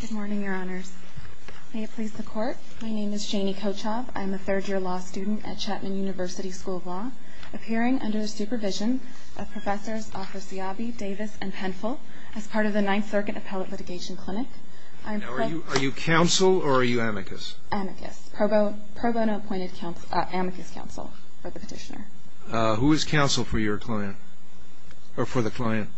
Good morning, Your Honors. May it please the Court, my name is Janie Kochob. I am a third-year law student at Chapman University School of Law, appearing under the supervision of Professors Othosiabi, Davis, and Penfill as part of the Ninth Circuit Appellate Litigation Clinic. Are you counsel or are you amicus? Amicus. Pro bono appointed amicus counsel for the petitioner. Who is counsel for your client, or for the client?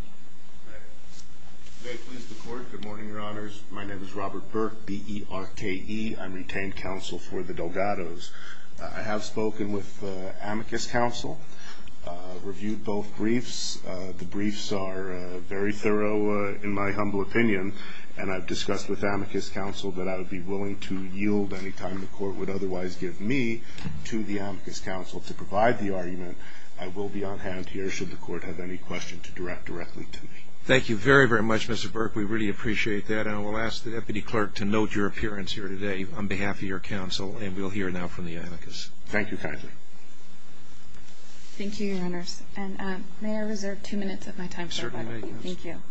May it please the Court, good morning, Your Honors. My name is Robert Burke, B-E-R-K-E. I'm retained counsel for the Delgados. I have spoken with amicus counsel, reviewed both briefs. The briefs are very thorough, in my humble opinion, and I've discussed with amicus counsel that I would be willing to yield any time the Court would otherwise give me to the amicus counsel to provide the argument. I will be on hand here should the Court have any questions to direct directly to me. Thank you very, very much, Mr. Burke. We really appreciate that. And I will ask the Deputy Clerk to note your appearance here today on behalf of your counsel, and we'll hear now from the amicus. Thank you kindly. Thank you, Your Honors. And may I reserve two minutes of my time, sir? Certainly. Thank you.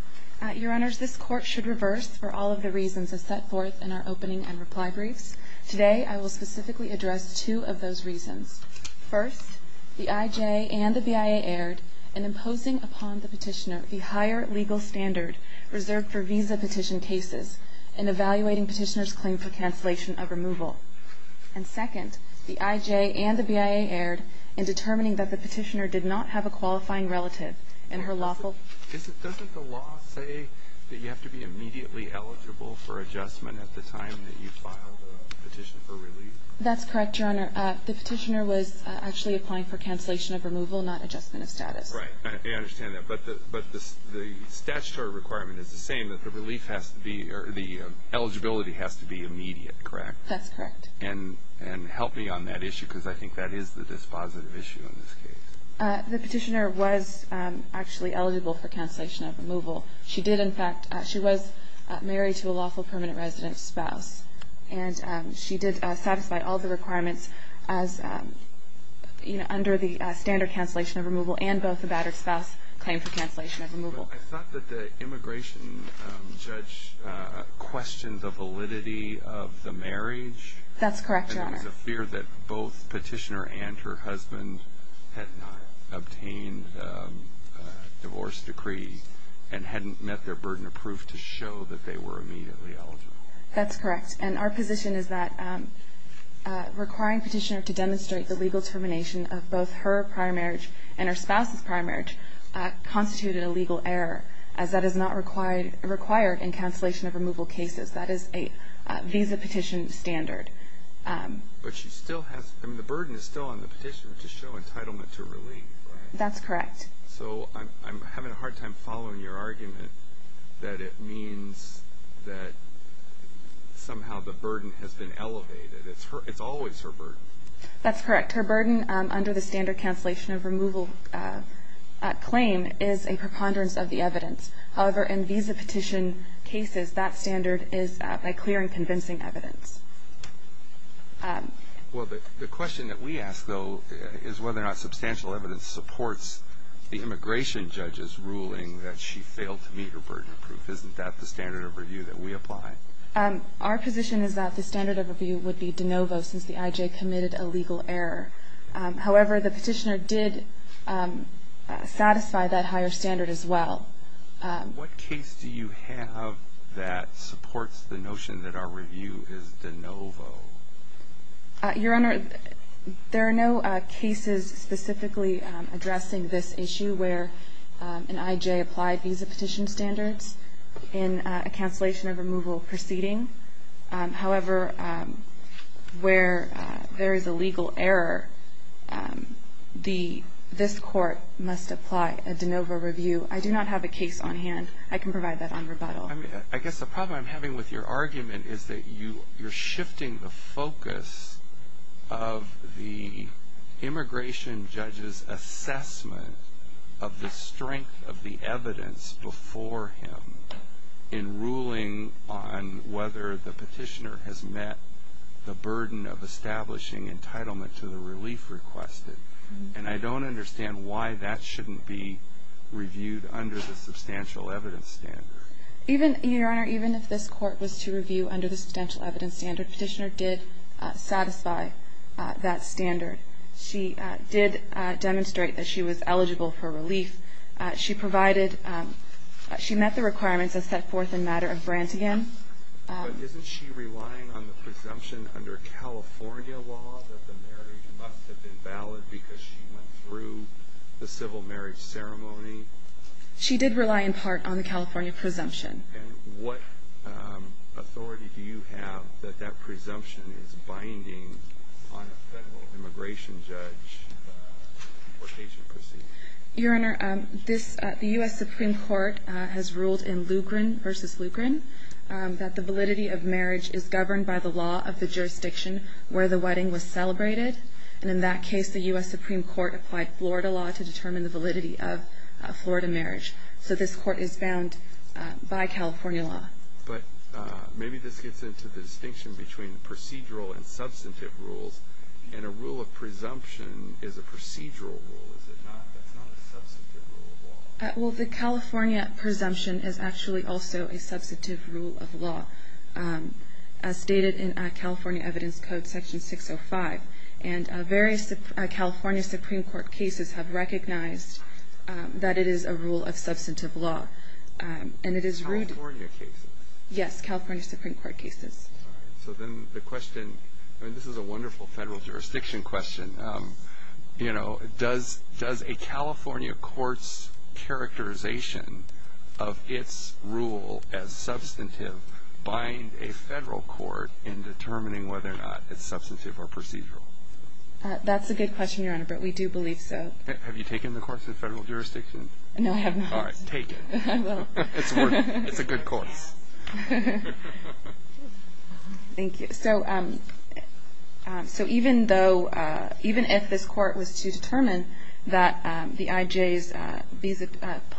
Your Honors, this Court should reverse for all of the reasons as set forth in our opening and reply briefs. Today, I will specifically address two of those reasons. First, the IJ and the BIA erred in imposing upon the petitioner the higher legal standard reserved for visa petition cases and evaluating petitioner's claim for cancellation of removal. And second, the IJ and the BIA erred in determining that the petitioner did not have a qualifying relative and her lawful Doesn't the law say that you have to be immediately eligible for adjustment at the time that you filed a petition for relief? That's correct, Your Honor. The petitioner was actually applying for cancellation of removal, not adjustment of status. Right. I understand that. But the statutory requirement is the same, that the eligibility has to be immediate, correct? That's correct. And help me on that issue, because I think that is the dispositive issue in this case. The petitioner was actually eligible for cancellation of removal. She did, in fact, she was married to a lawful permanent resident spouse, and she did satisfy all the requirements under the standard cancellation of removal and both the battered spouse claim for cancellation of removal. I thought that the immigration judge questioned the validity of the marriage. That's correct, Your Honor. Because there was a fear that both petitioner and her husband had not obtained a divorce decree and hadn't met their burden of proof to show that they were immediately eligible. That's correct. And our position is that requiring petitioner to demonstrate the legal termination of both her prior marriage and her spouse's prior marriage constituted a legal error, as that is not required in cancellation of removal cases. That is a visa petition standard. But she still has, I mean, the burden is still on the petitioner to show entitlement to relief, right? That's correct. So I'm having a hard time following your argument that it means that somehow the burden has been elevated. It's always her burden. That's correct. Her burden under the standard cancellation of removal claim is a preponderance of the evidence. However, in visa petition cases, that standard is by clearing convincing evidence. Well, the question that we ask, though, is whether or not substantial evidence supports the immigration judge's ruling that she failed to meet her burden of proof. Isn't that the standard of review that we apply? Our position is that the standard of review would be de novo since the IJ committed a legal error. However, the petitioner did satisfy that higher standard as well. What case do you have that supports the notion that our review is de novo? Your Honor, there are no cases specifically addressing this issue where an IJ applied visa petition standards in a cancellation of removal proceeding. However, where there is a legal error, this court must apply a de novo review. I do not have a case on hand. I can provide that on rebuttal. I guess the problem I'm having with your argument is that you're shifting the focus of the immigration judge's assessment of the strength of the evidence before him in ruling on whether the petitioner has met the burden of establishing entitlement to the relief requested. And I don't understand why that shouldn't be reviewed under the substantial evidence standard. Your Honor, even if this court was to review under the substantial evidence standard, the petitioner did satisfy that standard. She did demonstrate that she was eligible for relief. She provided she met the requirements as set forth in matter of Brantigan. But isn't she relying on the presumption under California law that the marriage must have been valid because she went through the civil marriage ceremony? She did rely in part on the California presumption. And what authority do you have that that presumption is binding on a federal immigration judge deportation proceeding? Your Honor, the U.S. Supreme Court has ruled in Lugren v. Lugren that the validity of marriage is governed by the law of the jurisdiction where the wedding was celebrated. And in that case, the U.S. Supreme Court applied Florida law to determine the validity of a Florida marriage. So this court is bound by California law. But maybe this gets into the distinction between procedural and substantive rules. And a rule of presumption is a procedural rule, is it not? That's not a substantive rule of law. Well, the California presumption is actually also a substantive rule of law, as stated in California Evidence Code Section 605. And various California Supreme Court cases have recognized that it is a rule of substantive law. California cases? Yes, California Supreme Court cases. All right. So then the question, and this is a wonderful federal jurisdiction question, you know, does a California court's characterization of its rule as substantive bind a federal court in determining whether or not it's substantive or procedural? That's a good question, Your Honor, but we do believe so. Have you taken the course of federal jurisdiction? No, I have not. All right, take it. I will. It's a good course. Thank you. So even if this court was to determine that the IJ's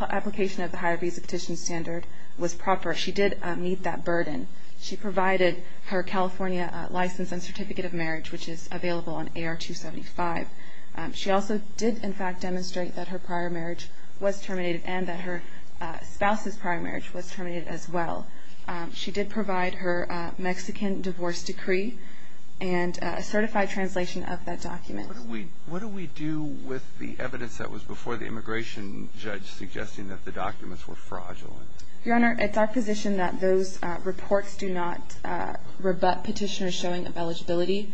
application of the higher visa petition standard was proper, she did meet that burden. She provided her California license and certificate of marriage, which is available on AR 275. She also did, in fact, demonstrate that her prior marriage was terminated and that her spouse's prior marriage was terminated as well. She did provide her Mexican divorce decree and a certified translation of that document. What do we do with the evidence that was before the immigration judge suggesting that the documents were fraudulent? Your Honor, it's our position that those reports do not rebut petitioner's showing of eligibility.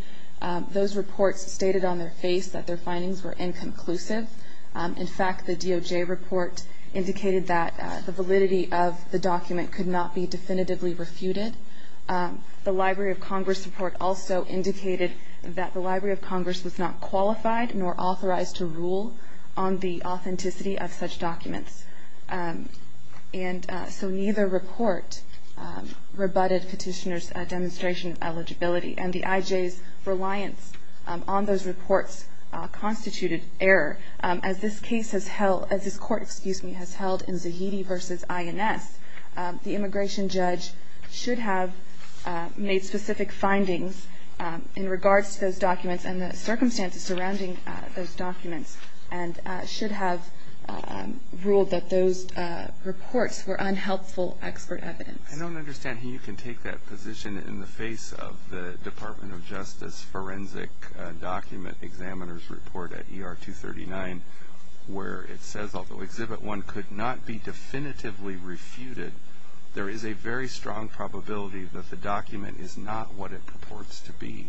Those reports stated on their face that their findings were inconclusive. In fact, the DOJ report indicated that the validity of the document could not be definitively refuted. The Library of Congress report also indicated that the Library of Congress was not qualified nor authorized to rule on the authenticity of such documents. And so neither report rebutted petitioner's demonstration of eligibility. And the IJ's reliance on those reports constituted error. As this case has held, as this court, excuse me, has held in Zahidi v. INS, the immigration judge should have made specific findings in regards to those documents and the circumstances surrounding those documents and should have ruled that those reports were unhelpful expert evidence. I don't understand how you can take that position in the face of the Department of Justice forensic document examiner's report at ER 239 where it says although Exhibit 1 could not be definitively refuted, there is a very strong probability that the document is not what it purports to be.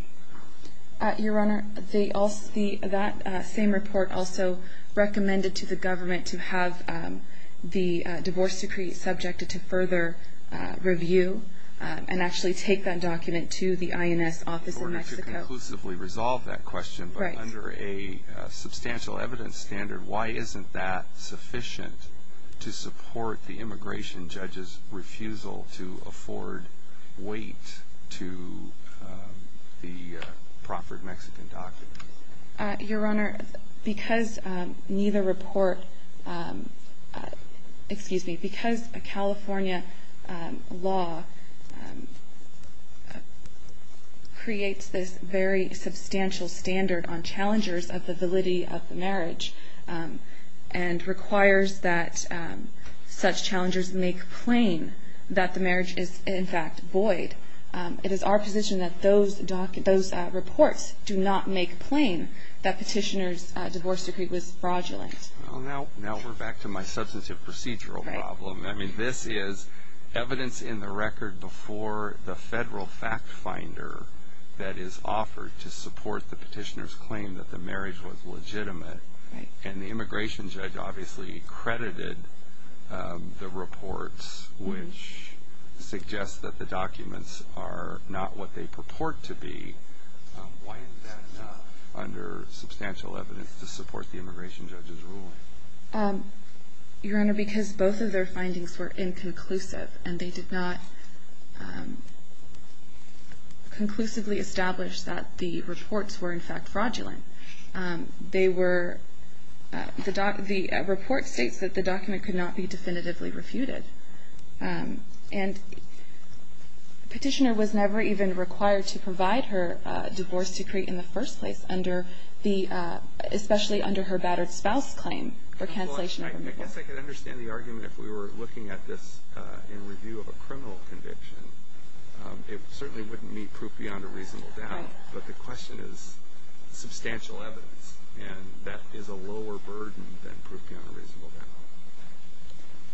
Your Honor, that same report also recommended to the government to have the divorce decree subjected to further review and actually take that document to the INS office in Mexico. In order to conclusively resolve that question, but under a substantial evidence standard, why isn't that sufficient to support the immigration judge's refusal to afford weight to the Crawford Mexican document? Your Honor, because neither report, excuse me, because California law creates this very substantial standard on challengers of the validity of the marriage and requires that such challengers make plain that the marriage is in fact void, it is our position that those reports do not make plain that petitioner's divorce decree was fraudulent. Well, now we're back to my substantive procedural problem. I mean, this is evidence in the record before the federal fact finder that is offered to support the petitioner's claim that the marriage was legitimate. And the immigration judge obviously credited the reports, which suggests that the documents are not what they purport to be. Why isn't that enough under substantial evidence to support the immigration judge's ruling? Your Honor, because both of their findings were inconclusive and they did not conclusively establish that the reports were in fact fraudulent. The report states that the document could not be definitively refuted. And petitioner was never even required to provide her divorce decree in the first place under the especially under her battered spouse claim for cancellation of remittal. I guess I could understand the argument if we were looking at this in review of a criminal conviction. It certainly wouldn't meet proof beyond a reasonable doubt. But the question is substantial evidence. And that is a lower burden than proof beyond a reasonable doubt.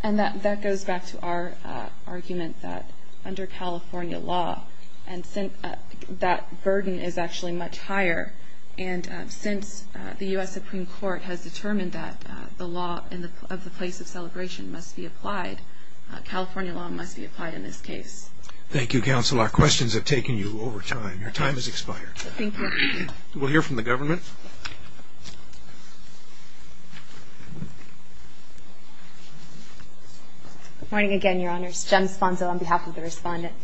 And that goes back to our argument that under California law, that burden is actually much higher. And since the U.S. Supreme Court has determined that the law of the place of celebration must be applied, California law must be applied in this case. Thank you, Counselor. Our questions have taken you over time. Your time has expired. Thank you. We'll hear from the government. Good morning again, Your Honors. Jem Sponzo on behalf of the Respondent.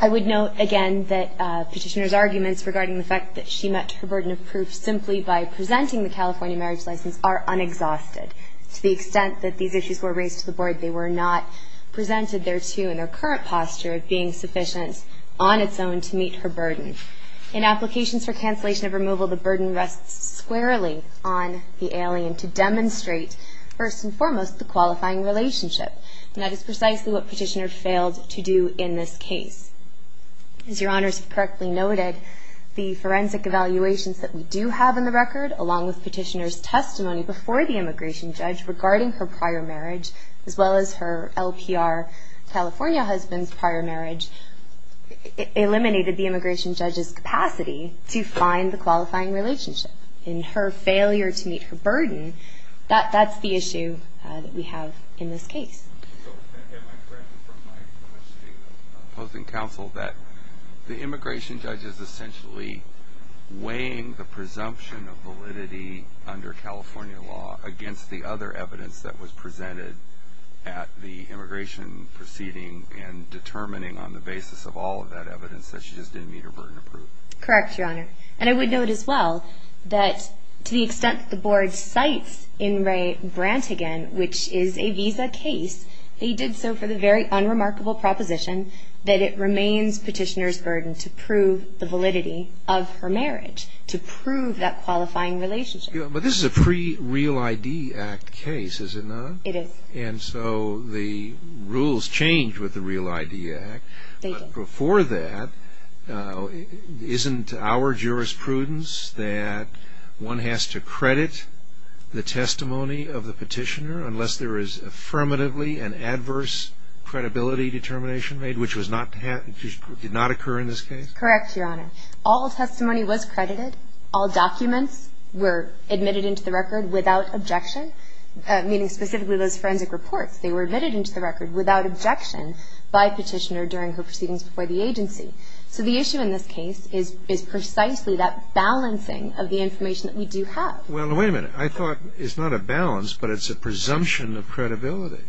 I would note again that petitioner's arguments regarding the fact that she met her burden of proof simply by presenting the California marriage license are unexhausted. To the extent that these issues were raised to the Board, they were not presented thereto in their current posture of being sufficient on its own to meet her burden. In applications for cancellation of removal, the burden rests squarely on the alien to demonstrate, first and foremost, the qualifying relationship. And that is precisely what petitioner failed to do in this case. As Your Honors correctly noted, the forensic evaluations that we do have in the record, along with petitioner's testimony before the immigration judge regarding her prior marriage, as well as her LPR California husband's prior marriage, eliminated the immigration judge's capacity to find the qualifying relationship. In her failure to meet her burden, that's the issue that we have in this case. So am I correct from my question of opposing counsel that the immigration judge is essentially weighing the presumption of validity under California law against the other evidence that was presented at the immigration proceeding and determining on the basis of all of that evidence that she just didn't meet her burden of proof? Correct, Your Honor. And I would note as well that to the extent that the Board cites In re Brantigan, which is a visa case, they did so for the very unremarkable proposition that it remains petitioner's burden to prove the validity of her marriage, to prove that qualifying relationship. But this is a pre-Real ID Act case, is it not? It is. And so the rules change with the Real ID Act. Thank you. But before that, isn't our jurisprudence that one has to credit the testimony of the petitioner unless there is affirmatively an adverse credibility determination made, which did not occur in this case? Correct, Your Honor. All testimony was credited. All documents were admitted into the record without objection, meaning specifically those forensic reports. They were admitted into the record without objection by petitioner during her proceedings before the agency. So the issue in this case is precisely that balancing of the information that we do have. Well, wait a minute. I thought it's not a balance, but it's a presumption of credibility.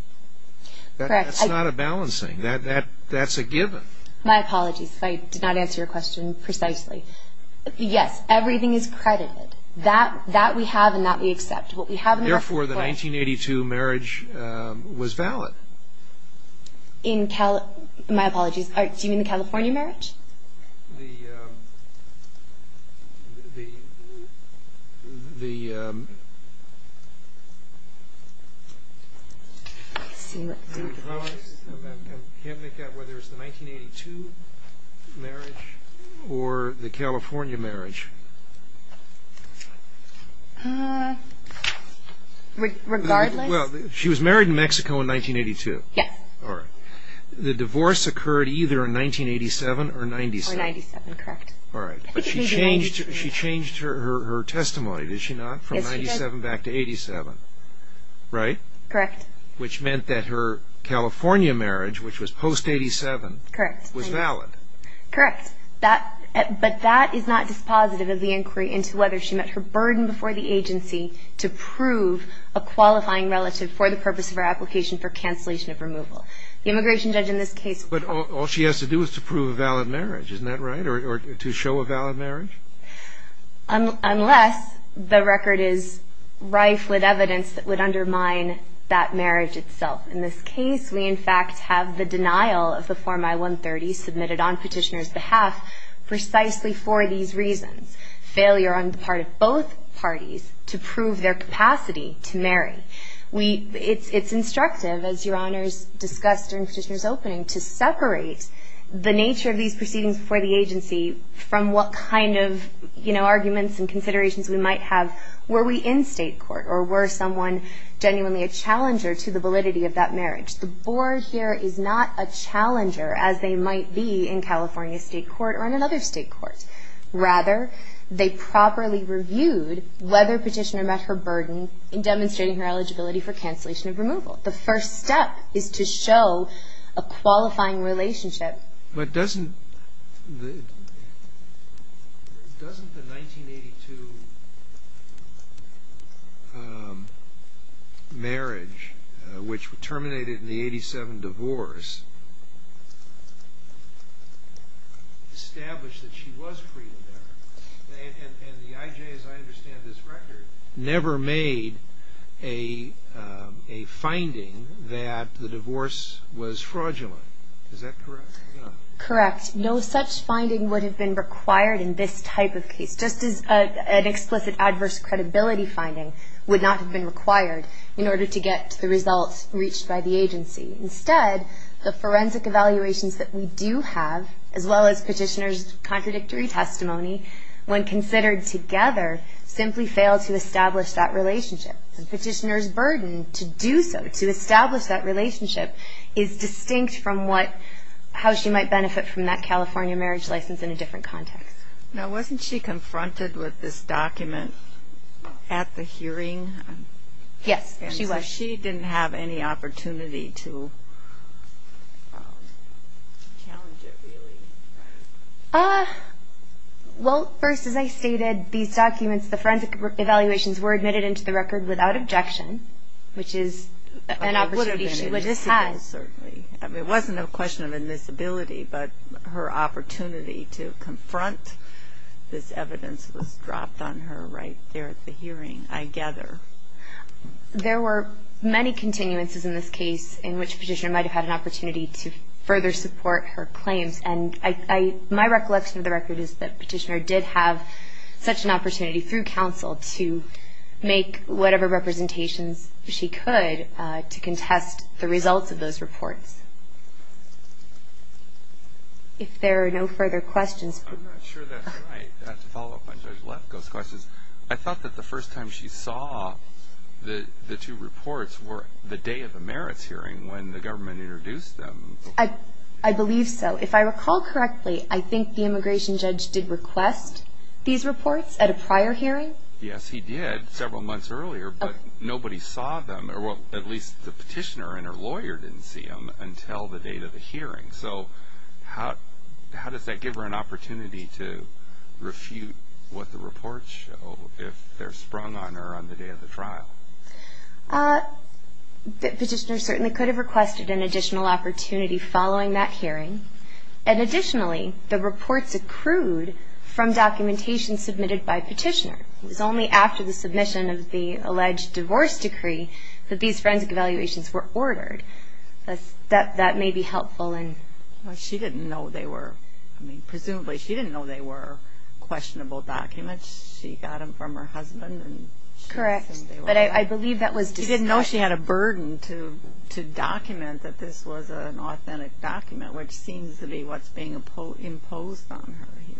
Correct. That's not a balancing. That's a given. My apologies if I did not answer your question precisely. Yes, everything is credited. That we have and that we accept. Therefore, the 1982 marriage was valid. My apologies. Do you mean the California marriage? The 1982 marriage or the California marriage? Regardless? Well, she was married in Mexico in 1982. Yes. All right. The divorce occurred either in 1987 or 97. Or 97, correct. All right. But she changed her testimony, did she not? Yes, she did. From 97 back to 87, right? Correct. Which meant that her California marriage, which was post-87, was valid. Correct. But that is not dispositive. It's not dispositive of the inquiry into whether she met her burden before the agency to prove a qualifying relative for the purpose of her application for cancellation of removal. The immigration judge in this case. But all she has to do is to prove a valid marriage, isn't that right? Or to show a valid marriage? Unless the record is rife with evidence that would undermine that marriage itself. In this case, we, in fact, have the denial of the Form I-130 submitted on Petitioner's reasons. Failure on the part of both parties to prove their capacity to marry. It's instructive, as Your Honors discussed during Petitioner's opening, to separate the nature of these proceedings before the agency from what kind of, you know, arguments and considerations we might have. Were we in state court? Or were someone genuinely a challenger to the validity of that marriage? The board here is not a challenger, as they might be in California state court or in another state court. Rather, they properly reviewed whether Petitioner met her burden in demonstrating her eligibility for cancellation of removal. The first step is to show a qualifying relationship. But doesn't the 1982 marriage, which terminated in the 87 divorce, establish that she was pre-American? And the IJ, as I understand this record, never made a finding that the divorce was fraudulent. Is that correct? Correct. No such finding would have been required in this type of case, just as an explicit adverse credibility finding would not have been required in order to get the results reached by the agency. Instead, the forensic evaluations that we do have, as well as Petitioner's contradictory testimony, when considered together simply fail to establish that relationship. And Petitioner's burden to do so, to establish that relationship, is distinct from how she might benefit from that California marriage license in a different context. Now, wasn't she confronted with this document at the hearing? Yes, she was. And so she didn't have any opportunity to challenge it, really? Well, first, as I stated, these documents, the forensic evaluations were admitted into the record without objection, which is an opportunity she would have had. It wasn't a question of admissibility, but her opportunity to confront this evidence was dropped on her right there at the hearing, I gather. There were many continuances in this case in which Petitioner might have had an opportunity to further support her claims. And my recollection of the record is that Petitioner did have such an opportunity, through counsel, to make whatever representations she could to contest the results of those reports. If there are no further questions. I'm not sure that's right. To follow up on Judge Lefkoe's questions, I thought that the first time she saw the two reports were the day of the merits hearing, when the government introduced them. I believe so. If I recall correctly, I think the immigration judge did request these reports at a prior hearing? Yes, he did, several months earlier. But nobody saw them, or at least the Petitioner and her lawyer didn't see them, until the date of the hearing. So how does that give her an opportunity to refute what the reports show, if they're sprung on her on the day of the trial? Petitioner certainly could have requested an additional opportunity following that hearing. And additionally, the reports accrued from documentation submitted by Petitioner. It was only after the submission of the alleged divorce decree that these forensic evaluations were ordered. That may be helpful. She didn't know they were. I mean, presumably she didn't know they were questionable documents. She got them from her husband. Correct. But I believe that was discussed. She didn't know she had a burden to document that this was an authentic document, which seems to be what's being imposed on her here.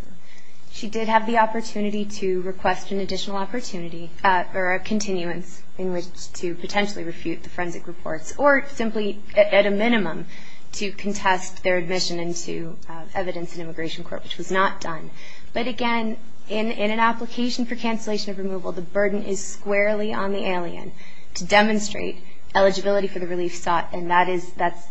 She did have the opportunity to request an additional opportunity, or a continuance in which to potentially refute the forensic reports, or simply at a minimum to contest their admission into evidence in immigration court, which was not done. But again, in an application for cancellation of removal, the burden is squarely on the alien to demonstrate eligibility for the relief sought. And that's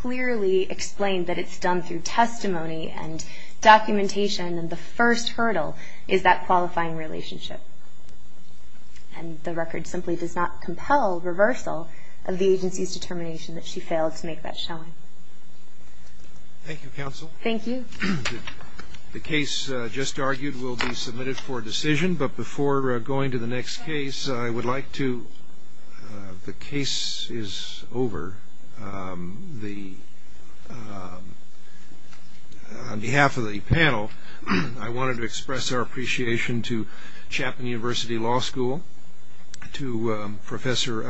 clearly explained that it's done through testimony and documentation. And the first hurdle is that qualifying relationship. And the record simply does not compel reversal of the agency's determination that she failed to make that showing. Thank you, counsel. Thank you. The case just argued will be submitted for decision. But before going to the next case, I would like to the case is over. On behalf of the panel, I wanted to express our appreciation to Chapman University Law School, to Professor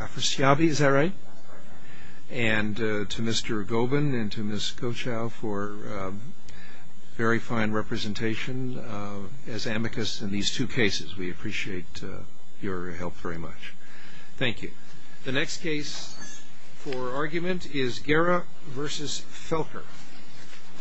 Afrasiabi, is that right? And to Mr. Gobin and to Ms. Kochow for very fine representation as amicus in these two cases. We appreciate your help very much. Thank you. The next case for argument is Guerra v. Felker.